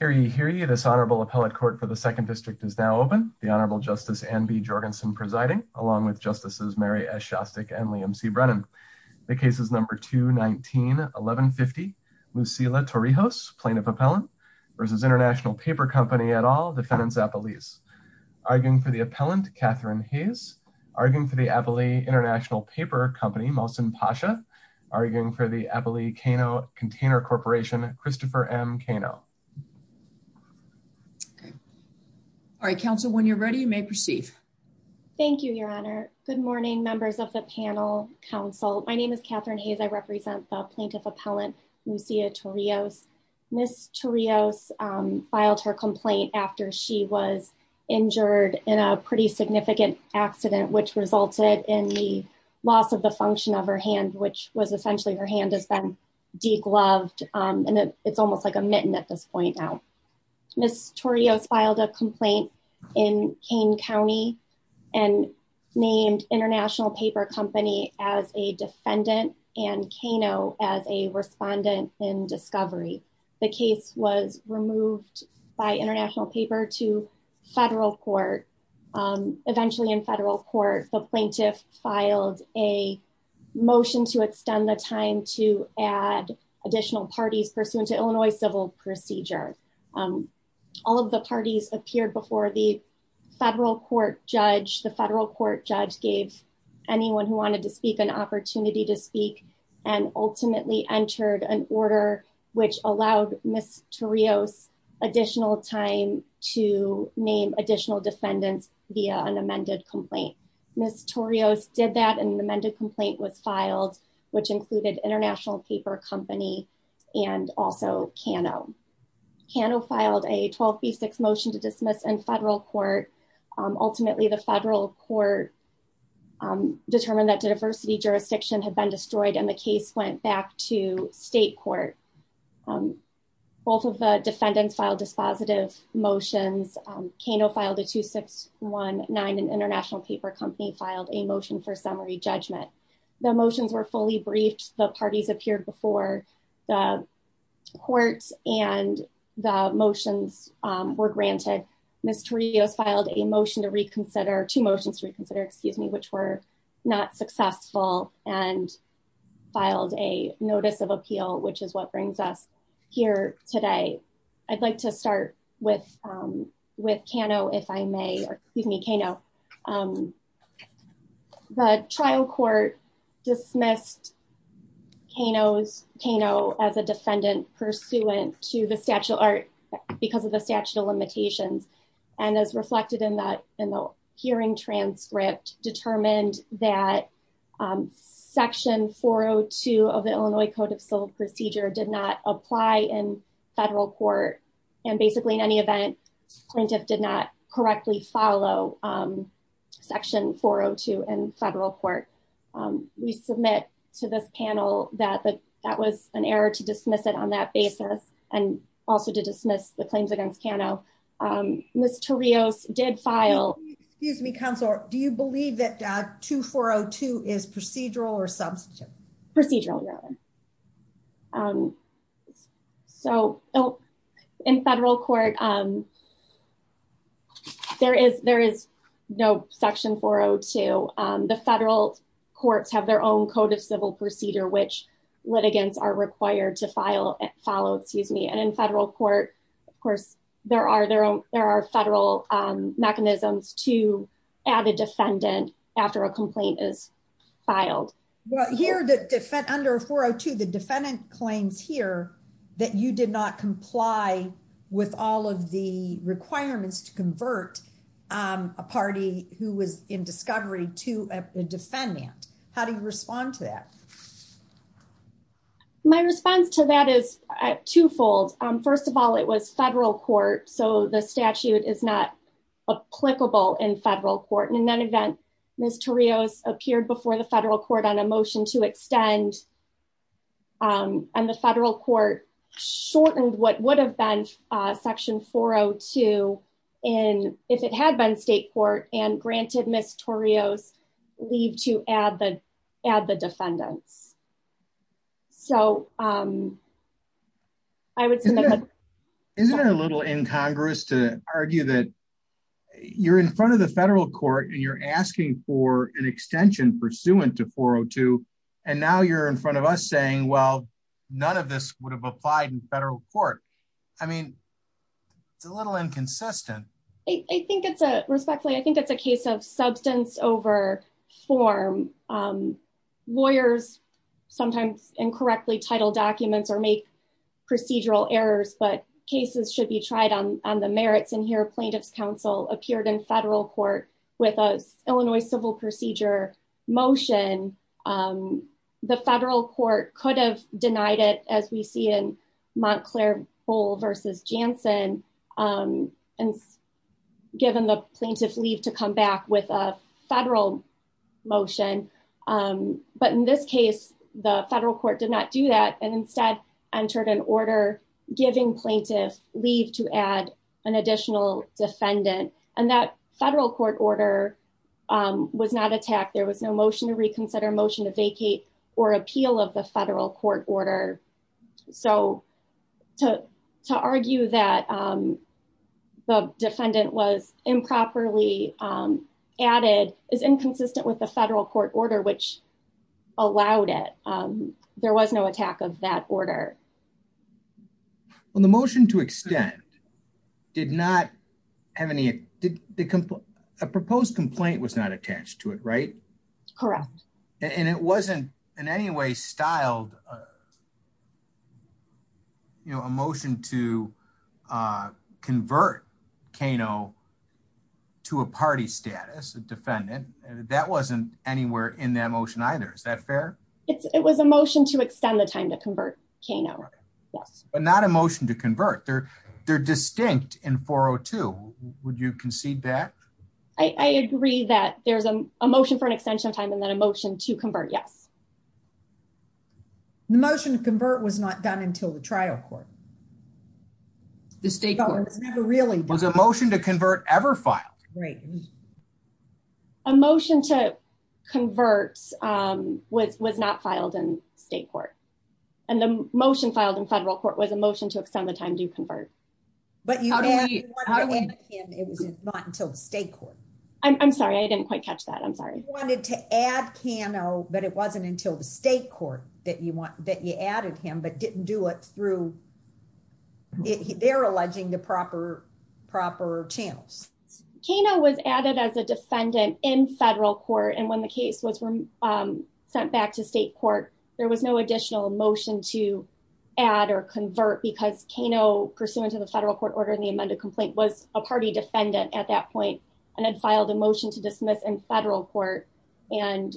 Hear ye, hear ye, this Honorable Appellate Court for the 2nd District is now open, the Honorable Justice Anne B. Jorgensen presiding, along with Justices Mary S. Shostak and Liam C. Brennan. The case is number 219-1150, Lucila Torrijos, Plaintiff Appellant, versus International Paper Company et al., Defendants Appellees. Arguing for the Appellant, Catherine Hayes. Arguing for the Appellee, International Paper Company, Mohsen Pasha. Arguing for the Appellee, Cano Container Corporation, Christopher M. Cano. All right, counsel, when you're ready, you may proceed. Thank you, Your Honor. Good morning, members of the panel, counsel. My name is Catherine Hayes. I represent the Plaintiff Appellant, Lucila Torrijos. Ms. Torrijos filed her complaint after she was injured in a pretty significant accident, which resulted in the loss of the function of her hand, which was essentially her hand has been degloved, and it's almost like a mitten at this point now. Ms. Torrijos filed a complaint in Kane County and named International Paper Company as a defendant and Cano as a respondent in discovery. The case was removed by International Paper to federal court. Eventually in federal court, the plaintiff filed a motion to extend the time to add additional parties pursuant to Illinois civil procedure. All of the parties appeared before the federal court judge. The federal court judge gave anyone who wanted to speak an opportunity to speak and ultimately entered an order which allowed Ms. Torrijos additional time to name additional defendants via an amended complaint. Ms. Torrijos did that and an amended complaint was filed, which included International Paper Company and also Cano. Cano filed a 12B6 motion to dismiss in federal court. Ultimately, the federal court determined that the diversity jurisdiction had been destroyed and the case went back to state court. Both of the defendants filed dispositive motions. Cano filed a 2619 and International Paper Company filed a motion for summary judgment. The motions were fully briefed. The parties appeared before the courts and the motions were granted. Ms. Torrijos filed a motion to reconsider, two motions to reconsider, excuse me, which were not successful and filed a notice of appeal, which is what brings us here today. I'd like to start with Cano, if I may, or excuse me, Cano. The trial court dismissed Cano as a defendant pursuant to the statute or because of the limitations and as reflected in the hearing transcript determined that section 402 of the Illinois Code of Civil Procedure did not apply in federal court and basically in any event, plaintiff did not correctly follow section 402 in federal court. We submit to this panel that that was an error to dismiss it on that basis and also to dismiss the claims against Cano. Ms. Torrijos did file. Excuse me, Counselor, do you believe that 2402 is procedural or substantive? Procedural rather. So in federal court, there is no section 402. The federal courts have their own Code of Civil Procedure, which litigants are required to file and follow. Excuse me, and in federal court, of course, there are there. There are federal mechanisms to add a defendant after a complaint is filed here to defend under 402. The defendant claims here that you did not comply with all of the requirements to convert a party who was in discovery to a defendant. How do you respond to that? My response to that is twofold. First of all, it was federal court, so the statute is not applicable in federal court and in any event, Ms. Torrijos appeared before the federal court on a motion to extend. And the federal court shortened what would have been section 402 in if it had been state court and granted Ms. Torrijos leave to add the add the defendants. So I would say that isn't a little incongruous to argue that you're in front of the federal court and you're asking for an extension pursuant to 402. And now you're in front of us saying, well, none of this would have applied in federal court. I mean, it's a little inconsistent. I think it's a respectfully, I think it's a case of substance over form. Lawyers sometimes incorrectly title documents or make procedural errors, but cases should be tried on the merits. And here, plaintiff's counsel appeared in federal court with a Illinois civil procedure motion. The federal court could have denied it as we see in Montclair-Bowl v. Jansen and given the plaintiff leave to come back with a federal motion. But in this case, the federal court did not do that and instead entered an order giving plaintiff leave to add an additional defendant. And that federal court order was not attacked. There was no motion to reconsider, motion to vacate or appeal of the federal court order. So to argue that the defendant was improperly added is inconsistent with the federal court order, which allowed it. There was no attack of that order. Well, the motion to extend did not have any, a proposed complaint was not attached to it, right? Correct. And it wasn't in any way styled, you know, a motion to convert Kano to a party status, a defendant, that wasn't anywhere in that motion either. Is that fair? It's, it was a motion to extend the time to convert Kano. Yes. But not a motion to convert. They're, they're distinct in 402. Would you concede that? I agree that there's a motion for an extension of time and then a motion to convert. Yes. The motion to convert was not done until the trial court. The state never really was a motion to convert ever filed. Right. A motion to convert, um, was, was not filed in state court. And the motion filed in federal court was a motion to extend the time to convert. But it was not until the state court. I'm sorry. I didn't quite catch that. I'm sorry. Wanted to add Kano, but it wasn't until the state court that you want that you added him, but didn't do it through, they're alleging the proper, proper channels. Kano was added as a defendant in federal court. And when the case was sent back to state court, there was no additional motion to add or convert because Kano pursuant to the federal court order in the amended complaint was a party defendant at that point. And had filed a motion to dismiss in federal court and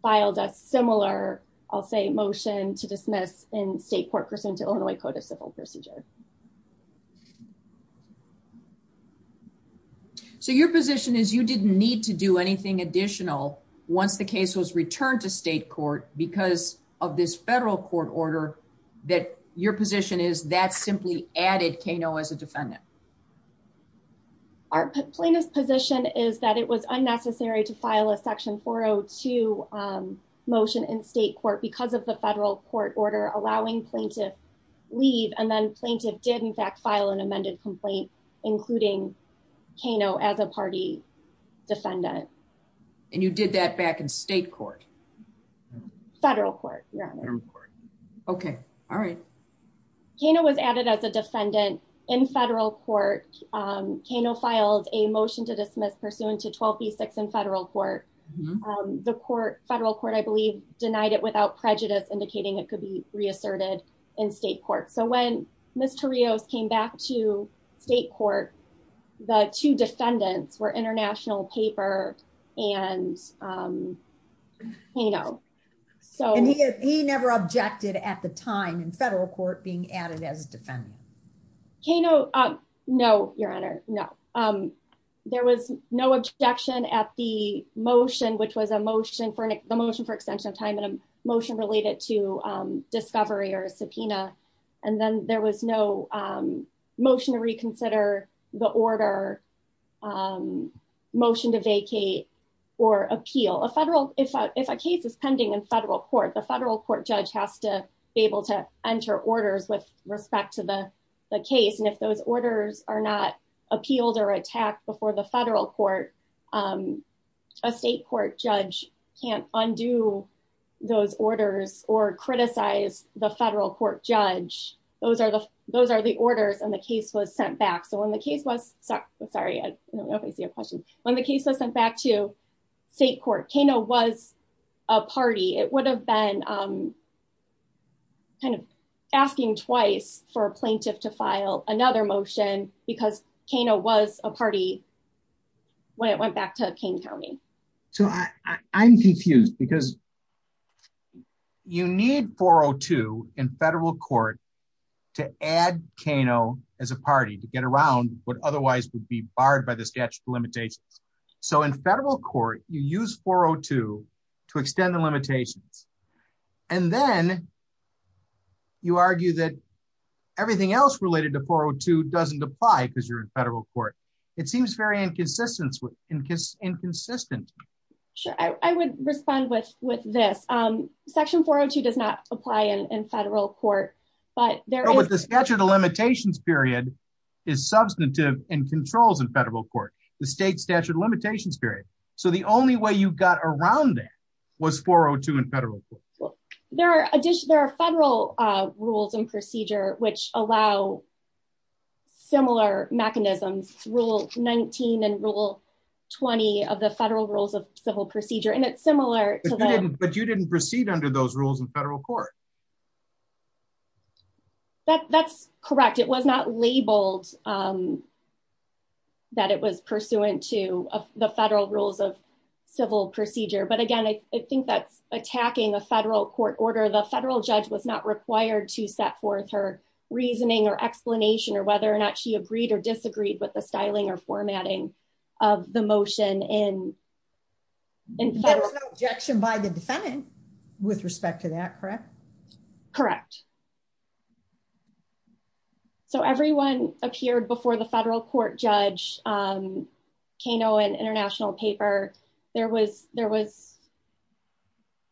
filed a similar, I'll say motion to dismiss in state court pursuant to Illinois code of civil procedure. So your position is you didn't need to do anything additional once the case was returned to state court because of this federal court order that your position is that simply added Kano as a defendant. Our plaintiff's position is that it was unnecessary to file a section 402 motion in state court because of the federal court order, allowing plaintiff leave. And then plaintiff did in fact, file an amended complaint, including Kano as a party defendant. And you did that back in state court? Federal court. Okay. All right. Kano was added as a defendant in federal court. Kano filed a motion to dismiss pursuant to 12B6 in federal court. The court, federal court, I believe denied it without prejudice indicating it could be reasserted in state court. So when Mr. Rios came back to state court, the two defendants were international paper and Kano. And he never objected at the time in federal court being added as a defendant. Kano, no, your honor, no. There was no objection at the motion, which was a motion for the motion for extension of time and a motion related to discovery or a subpoena. And then there was no motion to reconsider the order, motion to vacate or appeal. If a case is pending in federal court, the federal court judge has to be able to enter orders with respect to the case. And if those orders are not appealed or attacked before the federal court, a state court judge can't undo those orders or criticize the federal court judge. Those are the orders and the case was sent back. So when the case was, sorry, I don't know if I see a question. When the case was sent back to state court, Kano was a party. It would have been kind of asking twice for a plaintiff to file another motion because Kano was a party when it went back to Kane County. So I'm confused because you need 402 in federal court to add Kano as a party to get around what otherwise would be barred by the statute of limitations. So in federal court, you use 402 to extend the limitations. And then you argue that everything else related to 402 doesn't apply because you're in federal court. It seems very inconsistent. Sure. I would respond with this. Section 402 does not apply in federal court, but there is- But the statute of limitations period is substantive and controls in federal court, the state statute of limitations period. So the only way you got around that was 402 in federal court. There are federal rules and procedure which allow similar mechanisms, rule 19 and rule 20 of the federal rules of civil procedure. And it's similar to the- But you didn't proceed under those rules in federal court. That's correct. It was not labeled that it was pursuant to the federal rules of civil procedure. But again, I think that's attacking a federal court order. The federal judge was not required to set forth her reasoning or explanation or whether or not she agreed or disagreed with the styling or formatting of the motion in federal- There was no objection by the defendant with respect to that, correct? Correct. So everyone appeared before the federal court judge, Kano, in international paper. There was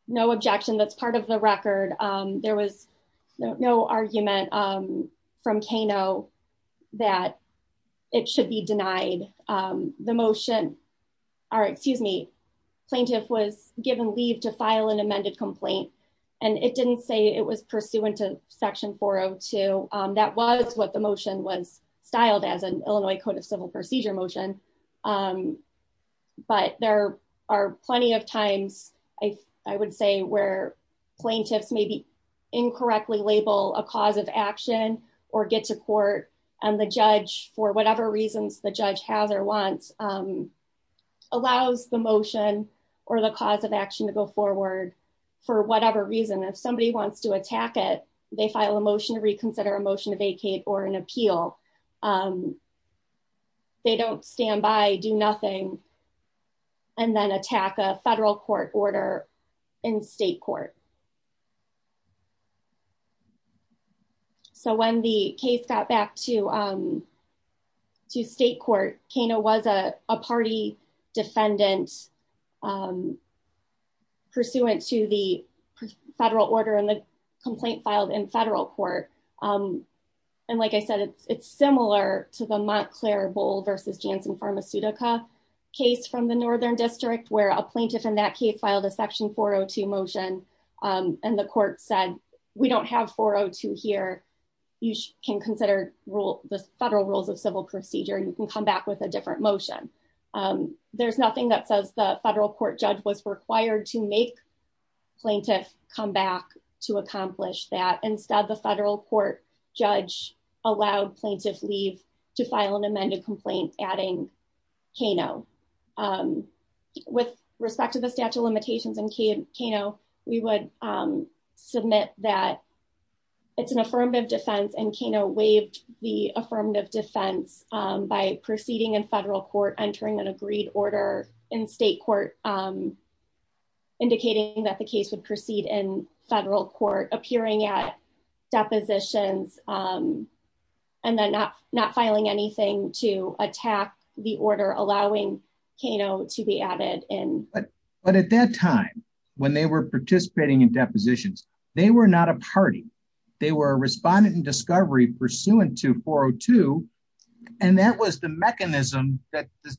no objection that's part of the record. There was no argument from Kano that it should be denied. The motion, or excuse me, plaintiff was given leave to file an amended complaint and it didn't say it was pursuant to section 402. That was what the motion was styled as an Illinois code of civil procedure motion. But there are plenty of times I would say where plaintiffs may be incorrectly label a cause of action or get to court and the judge for whatever reasons the judge has or wants allows the motion or the cause of action to go forward for whatever reason. If somebody wants to attack it, they file a motion to reconsider a motion to vacate or an appeal. They don't stand by, do nothing, and then attack a federal court order in state court. So when the case got back to state court, Kano was a party defendant pursuant to the federal order and the complaint filed in federal court. And like I said, it's similar to the Montclair Bull versus Janssen Pharmaceutical case from the northern district where a plaintiff in that case filed a section 402 motion and the court said, we don't have 402 here. You can consider the federal rules of civil procedure. You can come back with a different motion. There's nothing that says the federal court judge was required to make plaintiff come back to accomplish that. Instead, the federal court judge allowed plaintiff leave to file an amended complaint adding Kano. With respect to the statute of limitations and Kano, we would submit that it's an affirmative defense by proceeding in federal court, entering an agreed order in state court, indicating that the case would proceed in federal court, appearing at depositions, and then not filing anything to attack the order allowing Kano to be added in. But at that time, when they were participating in depositions, they were not a party. They were a respondent in discovery pursuant to 402. And that was the mechanism that the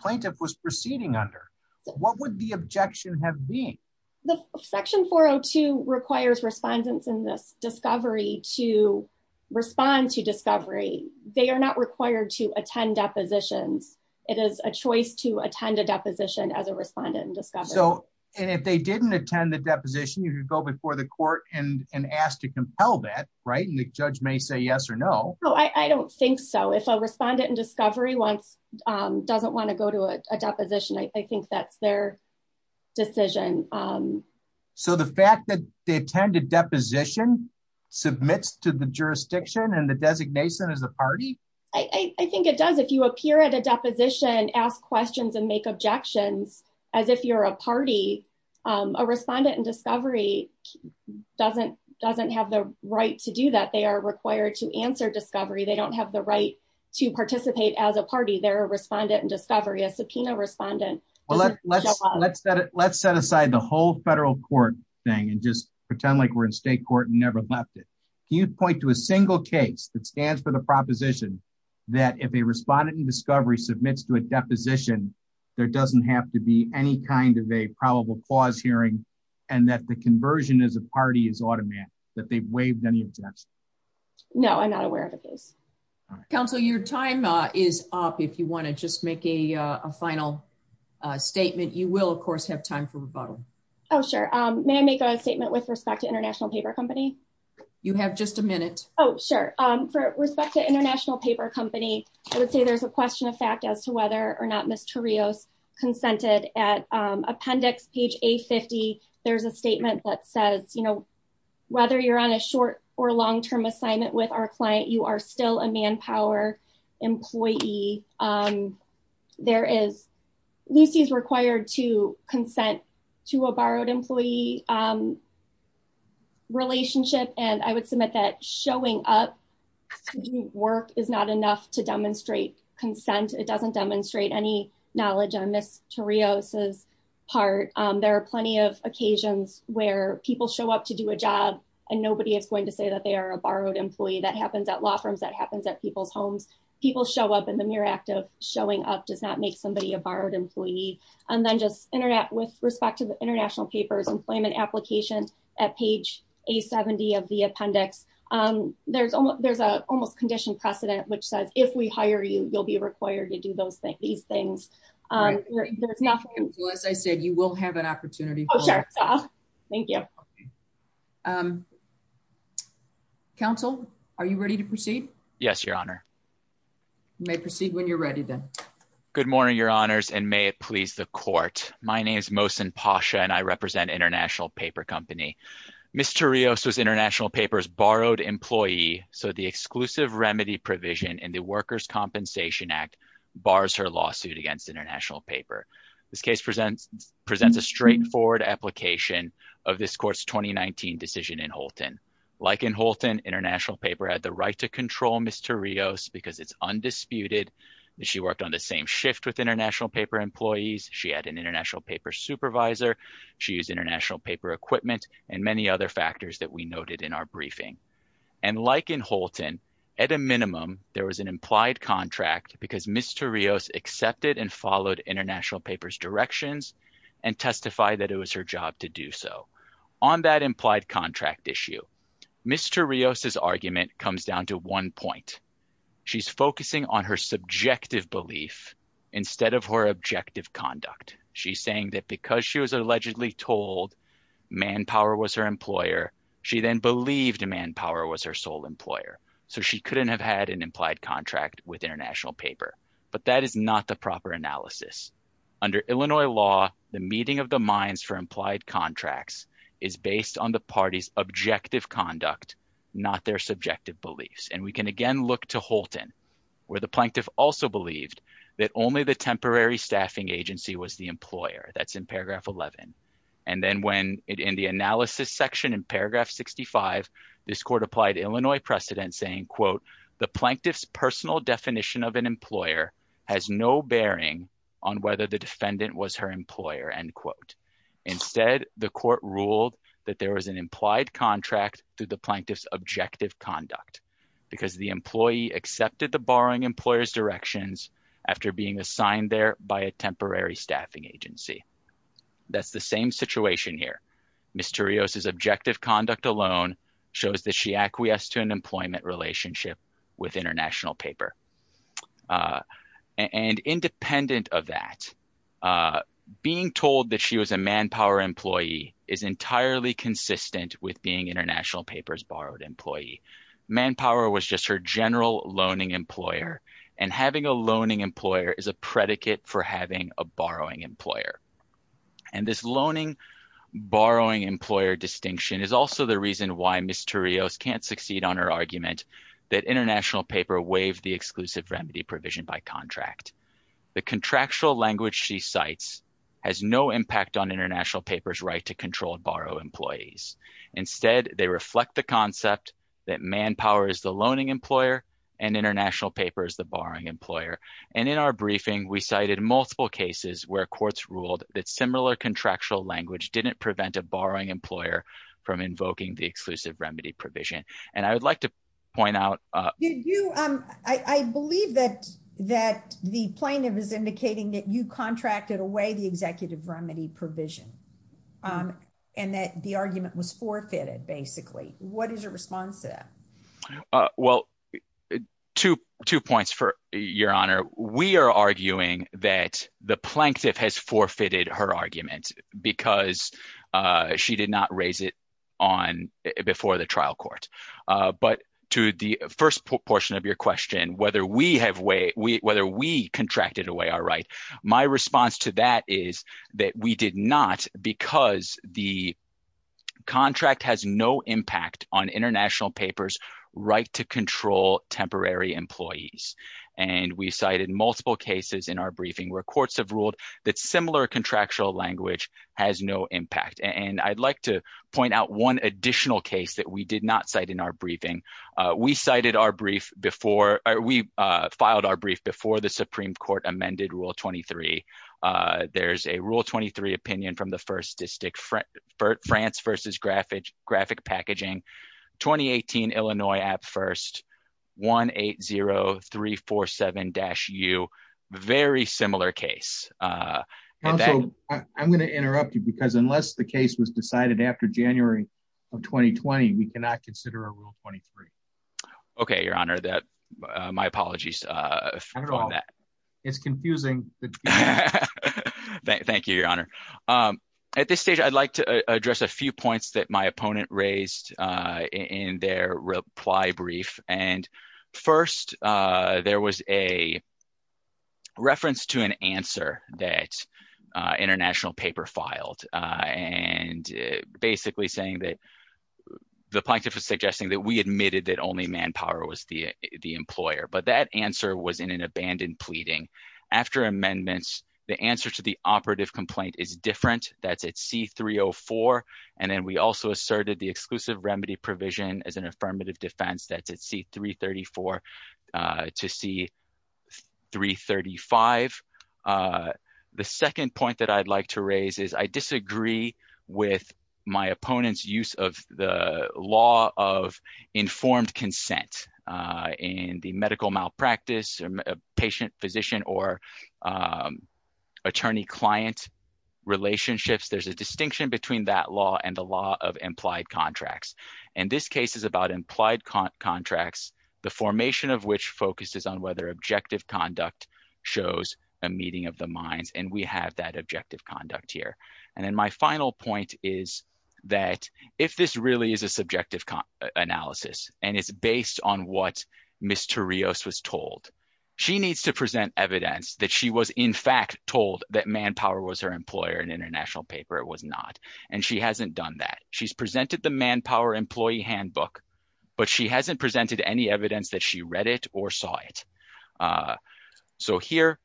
plaintiff was proceeding under. What would the objection have been? The section 402 requires respondents in this discovery to respond to discovery. They are not required to attend depositions. It is a choice to attend a deposition as a respondent in discovery. And if they didn't attend the deposition, you could go before the court and ask to compel that, right? And the judge may say yes or no. No, I don't think so. If a respondent in discovery doesn't want to go to a deposition, I think that's their decision. So the fact that they attend a deposition submits to the jurisdiction and the designation as a party? I think it does. If you appear at a deposition, ask questions and make objections as if you're a party, a respondent in discovery doesn't have the right to do that. They are required to answer discovery. They don't have the right to participate as a party. They're a respondent in discovery, a subpoena respondent. Let's set aside the whole federal court thing and just pretend like we're in state court and never left it. Can you point to a single case that stands for the proposition that if a respondent in discovery submits to a deposition, there doesn't have to be any kind of a probable clause hearing and that the conversion as a party is automatic, that they've waived any objection? No, I'm not aware of a case. Counsel, your time is up. If you want to just make a final statement, you will, of course, have time for rebuttal. Oh, sure. May I make a statement with respect to International Paper Company? You have just a minute. Oh, sure. For respect to International Paper Company, I would say there's a question of fact as to whether or not Ms. Torrios consented. At appendix page A50, there's a statement that says, you know, whether you're on a short or long-term assignment with our client, you are still a manpower employee. Lucy is required to consent to a borrowed employee relationship, and I would submit that showing up to do work is not enough to demonstrate consent. It doesn't demonstrate any knowledge on Ms. Torrios' part. There are plenty of occasions where people show up to do a job and nobody is going to say that they are a borrowed employee. That happens at law firms. That happens at people's homes. People show up and the mere act of showing up does not make somebody a borrowed employee. And then just with respect to the International Paper's employment application at page A70 of the appendix, there's an almost conditioned precedent which says, if we hire you, you'll be required to do these things. As I said, you will have an opportunity. Thank you. Counsel, are you ready to proceed? Yes, Your Honor. You may proceed when you're ready, then. Good morning, Your Honors, and may it please the Court. My name is Mohsen Pasha, and I represent International Paper Company. Ms. Torrios was International Paper's borrowed employee, so the exclusive remedy provision in the Workers' Compensation Act bars her lawsuit against International Paper. This case presents a straightforward application of this Court's 2019 decision in Holton. Like in Holton, International Paper had the right to control Ms. Torrios because it's undisputed that she worked on the same shift with International Paper employees, she had an International Paper supervisor, she used International Paper equipment, and many other factors that we noted in our briefing. And like in Holton, at a minimum, there was an implied contract because Ms. Torrios accepted and followed International Paper's directions and testified that it was her job to do so. On that implied contract issue, Ms. Torrios' argument comes down to one point. She's focusing on her subjective belief instead of her objective conduct. She's saying that because she was allegedly told manpower was her employer, she then believed manpower was her sole employer, so she couldn't have had an implied contract with International Paper. But that is not the proper analysis. Under Illinois law, the meeting of the minds for implied contracts is based on the party's objective conduct, not their subjective beliefs. And we can again look to Holton, where the plaintiff also believed that only the temporary staffing agency was the employer. That's in paragraph 11. And then when in the analysis section in paragraph 65, this Court applied Illinois precedent saying, quote, the plaintiff's personal definition of an employer has no bearing on whether the defendant was her employer, end quote. Instead, the Court ruled that there was an implied contract through the plaintiff's objective conduct because the employee accepted the borrowing employer's directions after being assigned there by a temporary staffing agency. That's the same situation here. Ms. Turrios's objective conduct alone shows that she acquiesced to an employment relationship with International Paper. And independent of that, being told that she was a manpower employee is entirely consistent with being International Paper's borrowed employee. Manpower was just her general loaning employer, and having a loaning employer is a predicate for having a borrowing employer. And this loaning borrowing employer distinction is also the reason why Ms. Turrios can't succeed on her argument that International Paper waived the exclusive remedy provision by contract. The contractual language she cites has no impact on International Paper's right to control borrow employees. Instead, they reflect the concept that manpower is the loaning employer and International Paper is the borrowing employer. And in our briefing, we cited multiple cases where courts ruled that similar contractual language didn't prevent a borrowing employer from invoking the exclusive remedy provision. And I would like to point out— Did you—I believe that the plaintiff is indicating that you contracted away the executive remedy provision and that the argument was forfeited, basically. What is your response to that? Well, two points, Your Honor. We are arguing that the plaintiff has forfeited her argument because she did not raise it before the trial court. But to the first portion of your question, whether we contracted away our right, my response to that is that we did not because the contract has no impact on International Paper's right to control temporary employees. And we cited multiple cases in our briefing where courts have ruled that similar contractual language has no impact. And I'd like to point out one additional case that we did not cite in our briefing. We cited our brief before—or we filed our brief before the Supreme Court amended Rule 23. There's a Rule 23 opinion from the First District, France v. Graphic Packaging. 2018 Illinois at First, 180347-U. Very similar case. I'm going to interrupt you because unless the case was decided after January of 2020, we cannot consider a Rule 23. Okay, Your Honor. My apologies. It's confusing. Thank you, Your Honor. At this stage, I'd like to address a few points that my opponent raised in their reply brief. And first, there was a reference to an answer that International Paper filed and basically saying that—the plaintiff was suggesting that we admitted that only Manpower was the employer. But that answer was in an abandoned pleading. After amendments, the answer to the operative complaint is different. That's at C-304. And then we also asserted the exclusive remedy provision as an affirmative defense. That's at C-334 to C-335. The second point that I'd like to raise is I disagree with my opponent's use of the consent in the medical malpractice, patient-physician, or attorney-client relationships. There's a distinction between that law and the law of implied contracts. And this case is about implied contracts, the formation of which focuses on whether objective conduct shows a meeting of the minds. And we have that objective conduct here. And then my final point is that if this really is a subjective analysis, and it's based on what Ms. Torrios was told, she needs to present evidence that she was in fact told that Manpower was her employer in International Paper. It was not. And she hasn't done that. She's presented the Manpower employee handbook, but she hasn't presented any evidence that she read it or saw it. So here,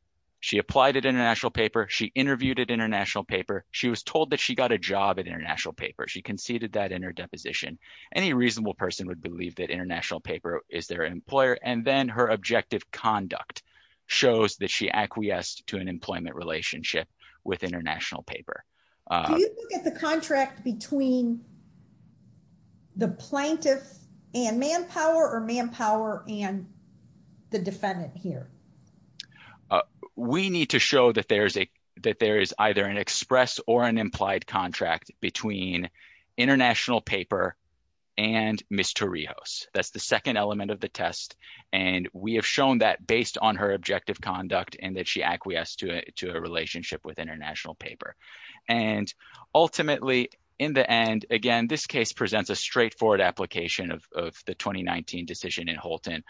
she applied at International Paper. She interviewed at International Paper. She was told that she got a job at International Paper. She conceded that in her deposition. Any reasonable person would believe that International Paper is their employer. And then her objective conduct shows that she acquiesced to an employment relationship with International Paper. Do you look at the contract between the plaintiff and Manpower or Manpower and the defendant here? We need to show that there is either an express or an implied contract between International Paper and Ms. Torrios. That's the second element of the test. And we have shown that based on her objective conduct and that she acquiesced to a relationship with International Paper. And ultimately, in the end, again, this case presents a straightforward application of the 2019 decision in Holton.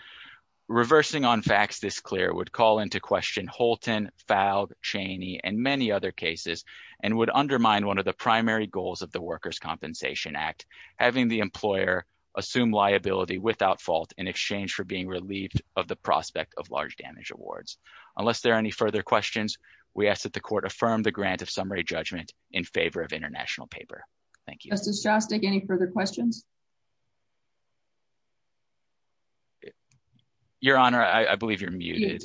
Reversing on facts this clear would call into question Holton, Fowl, Chaney, and many other cases and would undermine one of the primary goals of the Workers' Compensation Act, having the employer assume liability without fault in exchange for being relieved of the prospect of large damage awards. Unless there are any further questions, we ask that the court affirm the grant of summary judgment in favor of International Paper. Justice Shostak, any further questions? Your Honor, I believe you're muted.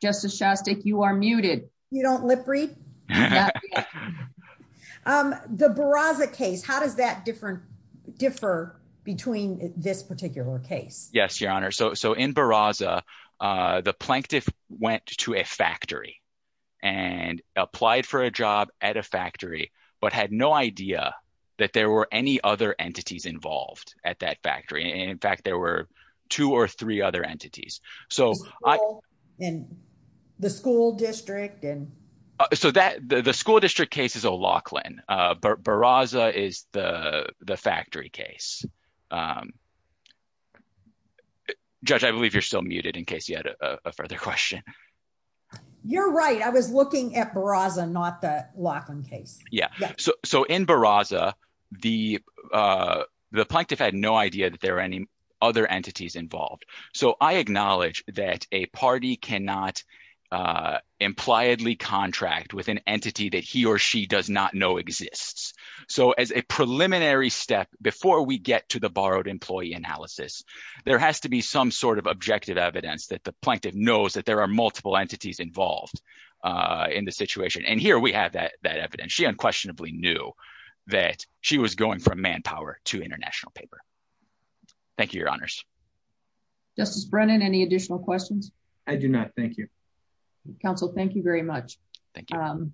Justice Shostak, you are muted. You don't lip read? The Barraza case, how does that differ between this particular case? Yes, Your Honor. So in Barraza, the plaintiff went to a factory and applied for a job at a factory, but had no idea that there were any other entities involved at that factory. And in fact, there were two or three other entities. So in the school district and so that the school district case is O'Loughlin. Barraza is the factory case. Judge, I believe you're still muted in case you had a further question. You're right. I was looking at Barraza, not the O'Loughlin case. Yeah. So in Barraza, the plaintiff had no idea that there were any other entities involved. So I acknowledge that a party cannot impliedly contract with an entity that he or she does not know exists. So as a preliminary step, before we get to the borrowed employee analysis, there has to be some sort of objective evidence that the plaintiff knows that there are multiple entities involved in the situation. And here we have that evidence. She unquestionably knew that she was going from manpower to international paper. Thank you, Your Honors. Justice Brennan, any additional questions? I do not. Thank you. Counsel, thank you very much. Thank you.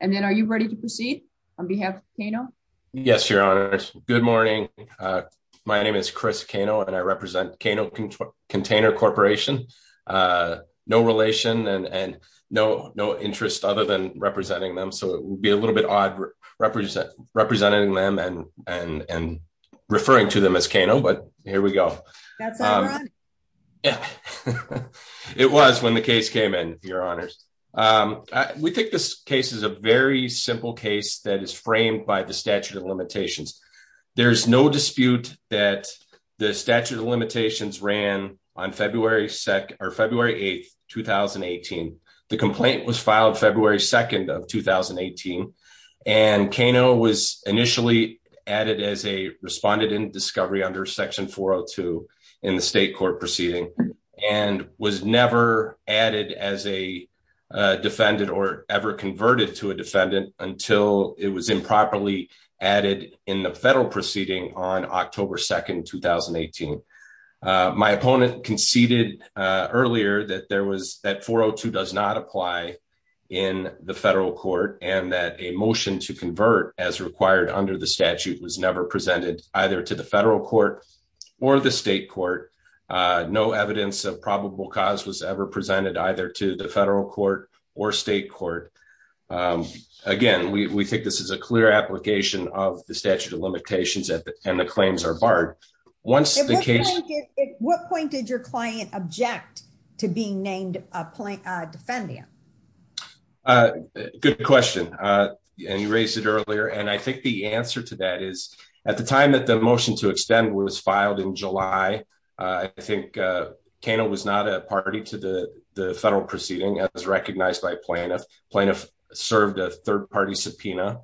And then are you ready to proceed on behalf of Kano? Yes, Your Honors. Good morning. My name is Chris Kano, and I represent Kano Container Corporation. No relation and no interest other than representing them. So it would be a little bit odd representing them and referring to them as Kano, but here we go. That's all right. Yeah. It was when the case came in, Your Honors. We think this case is a very simple case that is framed by the statute of limitations. There's no dispute that the statute of limitations ran on February 8th, 2018. The complaint was filed February 2nd of 2018, and Kano was initially added as a respondent in discovery under section 402 in the state court proceeding and was never added as a until it was improperly added in the federal proceeding on October 2nd, 2018. My opponent conceded earlier that 402 does not apply in the federal court and that a motion to convert as required under the statute was never presented either to the federal court or the state court. No evidence of probable cause was ever presented either to the federal court or state court. Again, we think this is a clear application of the statute of limitations and the claims are barred. What point did your client object to being named a defendant? Good question, and you raised it earlier, and I think the answer to that is at the time that the motion to extend was filed in July, I think Kano was not a party to the federal proceeding as recognized by plaintiff. Plaintiff served a third party subpoena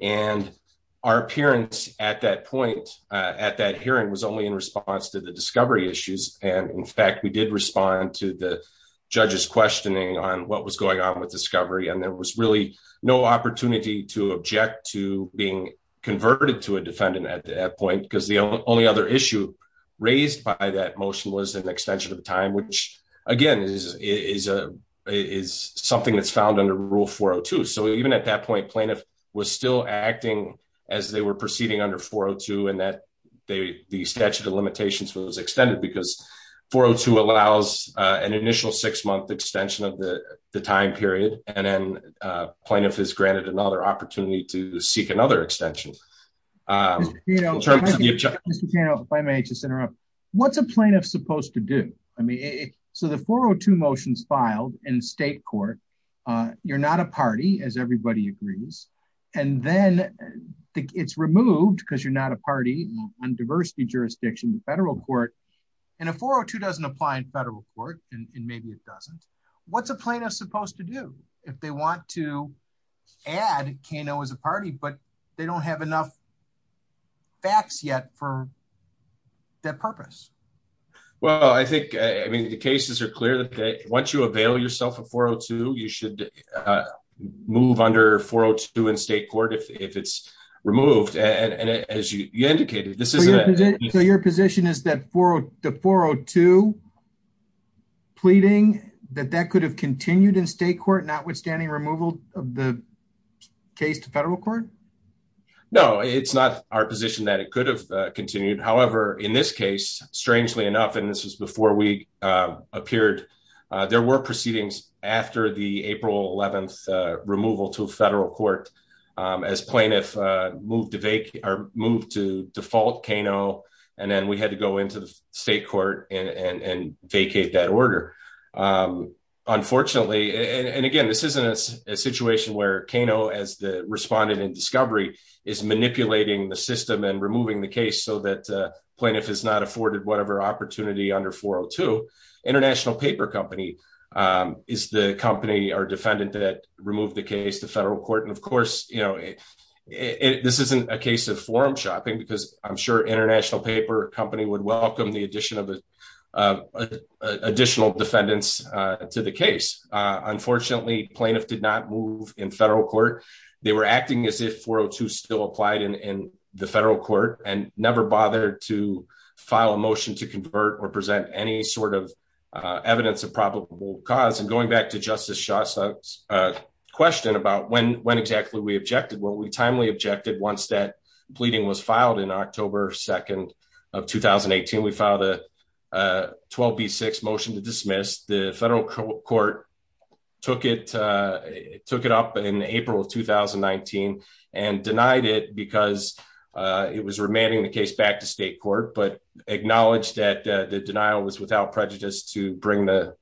and our appearance at that point at that hearing was only in response to the discovery issues. And in fact, we did respond to the judge's questioning on what was going on with discovery and there was really no opportunity to object to being converted to a defendant at that point because the only other issue raised by that motion was an extension of time, which again is something that's found under Rule 402. So even at that point, plaintiff was still acting as they were proceeding under 402 and that the statute of limitations was extended because 402 allows an initial six-month extension of the time period and then plaintiff is granted another opportunity to seek another extension. Mr. Kano, if I may just interrupt, what's a plaintiff supposed to do? So the 402 motions filed in state court, you're not a party as everybody agrees and then it's removed because you're not a party on diversity jurisdiction in federal court and a 402 doesn't apply in federal court and maybe it doesn't. What's a plaintiff supposed to do if they want to add Kano as a party but they don't have enough facts yet for that purpose? Well, I think I mean the cases are clear that once you avail yourself of 402, you should move under 402 in state court if it's removed and as you indicated this isn't it. So your position is that for the 402 pleading that that could have continued in state court notwithstanding removal of the case to federal court? No, it's not our position that it could have continued. However, in this case, strangely enough, and this is before we appeared, there were proceedings after the April 11th removal to federal court as plaintiff moved to default Kano and then we had to go into the state court and vacate that order. Unfortunately, and again this isn't a situation where Kano as the respondent in discovery is manipulating the system and removing the case so that plaintiff is not afforded whatever opportunity under 402. International Paper Company is the company or defendant that removed the case to federal court and of course, you know, this isn't a case of forum shopping because I'm sure International Paper Company would welcome the addition of additional defendants to the case. Unfortunately, plaintiff did not move in federal court. They were acting as if 402 still applied in the federal court and never bothered to file a motion to convert or present any sort of evidence of probable cause and going back to Justice Shasta's question about when exactly we objected. Well, we timely objected once that pleading was filed in October 2nd of 2018. We filed a 12B6 motion to dismiss the federal court took it took it up in April of 2019 and denied it because it was remanding the case back to state court but acknowledged that the denial was without prejudice to bring the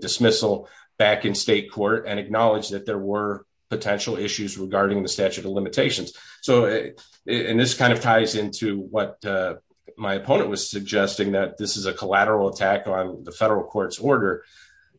dismissal back in state court and acknowledge that there were potential issues regarding the statute of limitations. So and this kind of ties into what my opponent was suggesting that this is a collateral attack on the federal court's order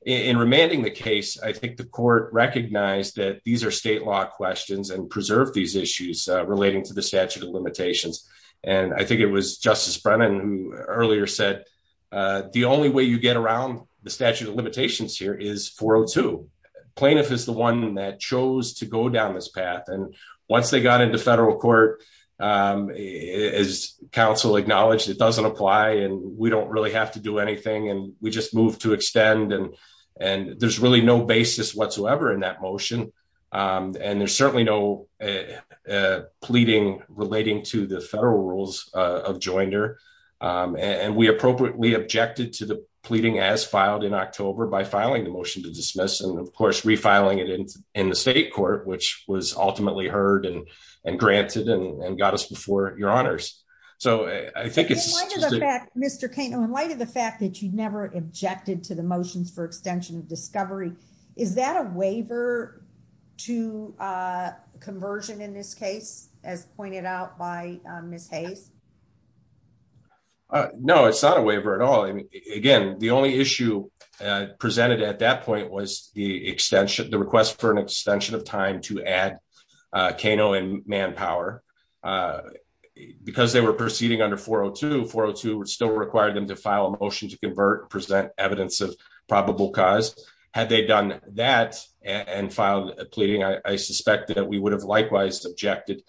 in remanding the case. I think the court recognized that these are state law questions and preserve these issues relating to the statute of limitations and I think it was Justice Brennan who earlier said the only way you get around the statute of limitations here is 402 plaintiff is the one that chose to go down this path and once they got into federal court as counsel acknowledged it doesn't apply and we don't really have to do anything and we just move to extend and and there's really no basis whatsoever in that motion and there's certainly no pleading relating to the federal rules of joinder and we appropriately objected to the pleading as filed in October by filing the motion to dismiss and of course refiling it in in the state court which was ultimately heard and and granted and got us before your honors. So I think it's Mr. Kaino in light of the fact that you never objected to the motions for extension of discovery is that a waiver to uh conversion in this case as pointed out by Ms. Hayes? No it's not a waiver at all I mean again the only issue uh presented at that point was the extension the request for an extension of time to add uh Kaino and Manpower uh because they were proceeding under 402 402 still required them to file a motion to convert present evidence of probable cause had they done that and filed a pleading I suspect that we would have likewise objected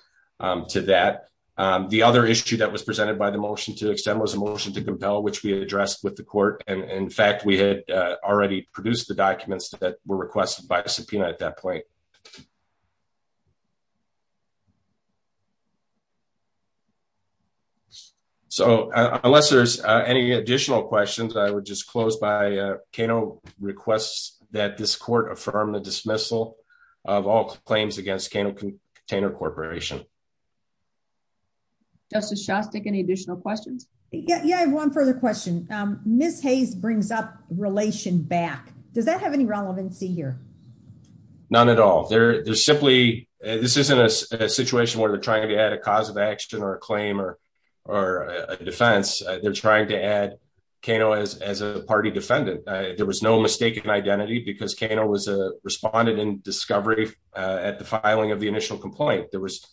to that. The other issue that was presented by the motion to extend was a motion to compel which we addressed with the court and in fact we had already produced the documents that were requested by the subpoena at that point. So unless there's any additional questions I would just close by Kaino requests that this court affirm the dismissal of all claims against Kaino Container Corporation. Justice Shostak any additional questions? Yeah yeah I have one further question um Ms. Hayes brings up relation back does that have any relevancy here? None at all they're they're simply this isn't a situation where they're trying to add a cause of action or a claim or or a defense they're trying to add Kaino as as a party defendant there was no mistaken identity because Kaino was a responded in discovery at the filing of the initial complaint there was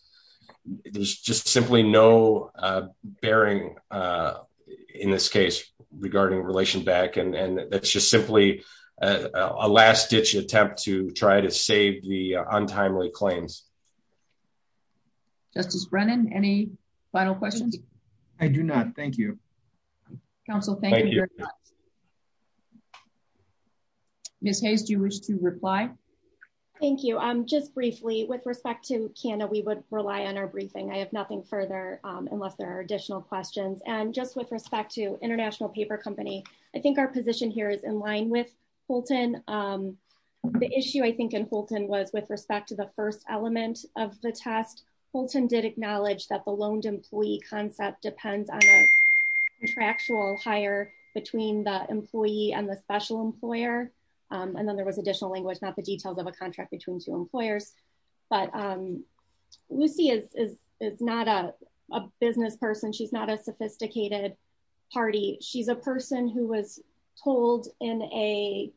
there's just simply no bearing in this case regarding relation back and and that's just simply a last-ditch attempt to try to save the untimely claims. Justice Brennan any final questions? I do not thank you. Counsel thank you. Ms. Hayes do you wish to reply? Thank you um just briefly with respect to Kaino we would rely on our briefing I have nothing further um unless there are additional questions and just with respect to International Paper Company I think our position here is in line with Holton um the issue I think in Holton was with respect to the first element of the test Holton did acknowledge that the loaned employee concept depends on a contractual hire between the employee and the special employer and then there was additional language not the details of a contract between two employers but um Lucy is is is not a a business person she's not a sophisticated party she's a person who was told in a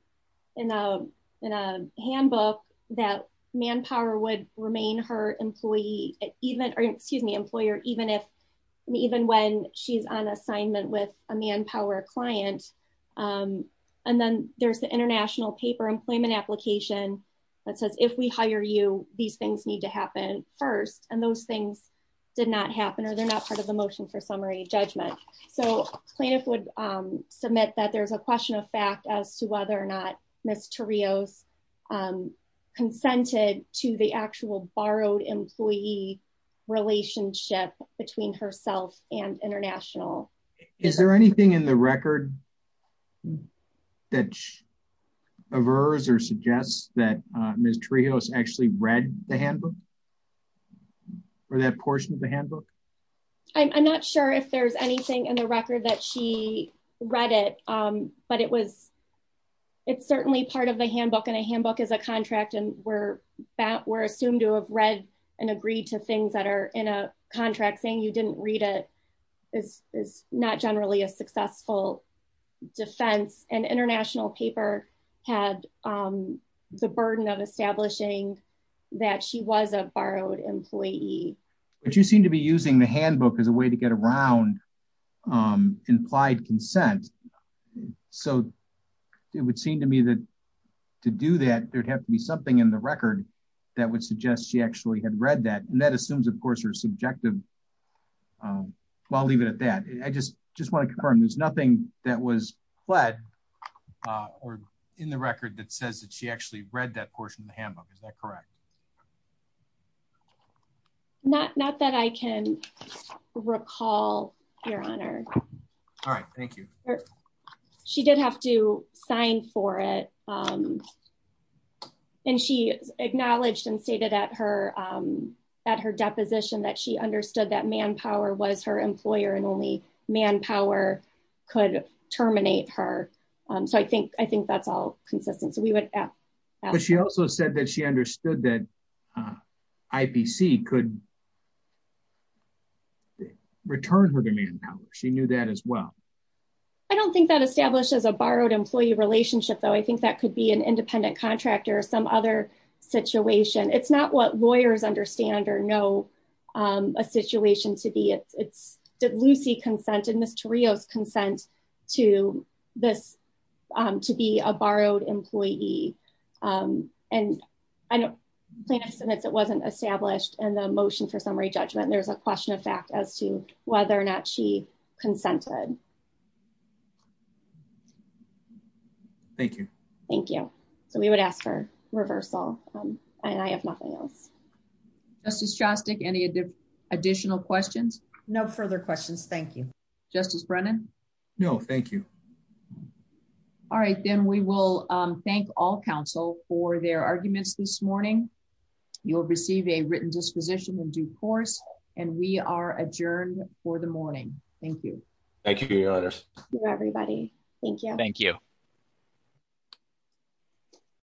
in a in a handbook that manpower would remain her employee even or excuse me employer even if even when she's on assignment with a manpower client um and then there's the international paper employment application that says if we hire you these things need to happen first and those things did not happen or they're not part of the motion for summary judgment so plaintiff would um submit that there's a question of fact as to whether or not Ms. Tarijos um consented to the actual borrowed employee relationship between herself and international. Is there anything in the record that averts or suggests that Ms. Tarijos actually read the handbook or that portion of the handbook? I'm not sure if there's anything in the record that she read it um but it was it's certainly part of the handbook and a handbook is a contract and we're that we're assumed to have read and agreed to things that are in a contract saying you didn't read it is is not generally a successful defense and international paper had um the burden of establishing that she was a borrowed employee but you seem to be using the handbook as a way to get around um implied consent so it would seem to me that to do that there'd have to be something in the record that would suggest she actually had read that and that assumes of course her subjective um well I'll leave it at that I just just want to confirm there's nothing that was fled uh or in the record that says that she actually read that portion of the handbook is that correct? Not not that I can recall your honor. All right thank you. She did have to sign for it um and she acknowledged and stated at her um at her deposition that she understood that manpower was her employer and only manpower could terminate her um so I think I think that's all consistent so we would but she also said that she understood that uh IPC could return her to manpower she knew that as well. I don't think that establishes a borrowed employee relationship though I think that could be an independent contractor or some other situation. It's not what lawyers understand or know um a situation to be it's did Lucy consent and Ms. Torrio's consent to this um to be a borrowed employee um and I don't think it wasn't established in the motion for summary judgment there's a question of fact as to whether or not she consented. Thank you. Thank you. So we would ask for reversal um and I have nothing else. Justice Shostak any additional questions? No further questions thank you. Justice Brennan? No thank you. All right then we will um thank all counsel for their arguments this morning you'll receive a written disposition in due course and we are adjourned for the morning. Thank you. Thank you your honor. Thank you everybody. Thank you. Thank you.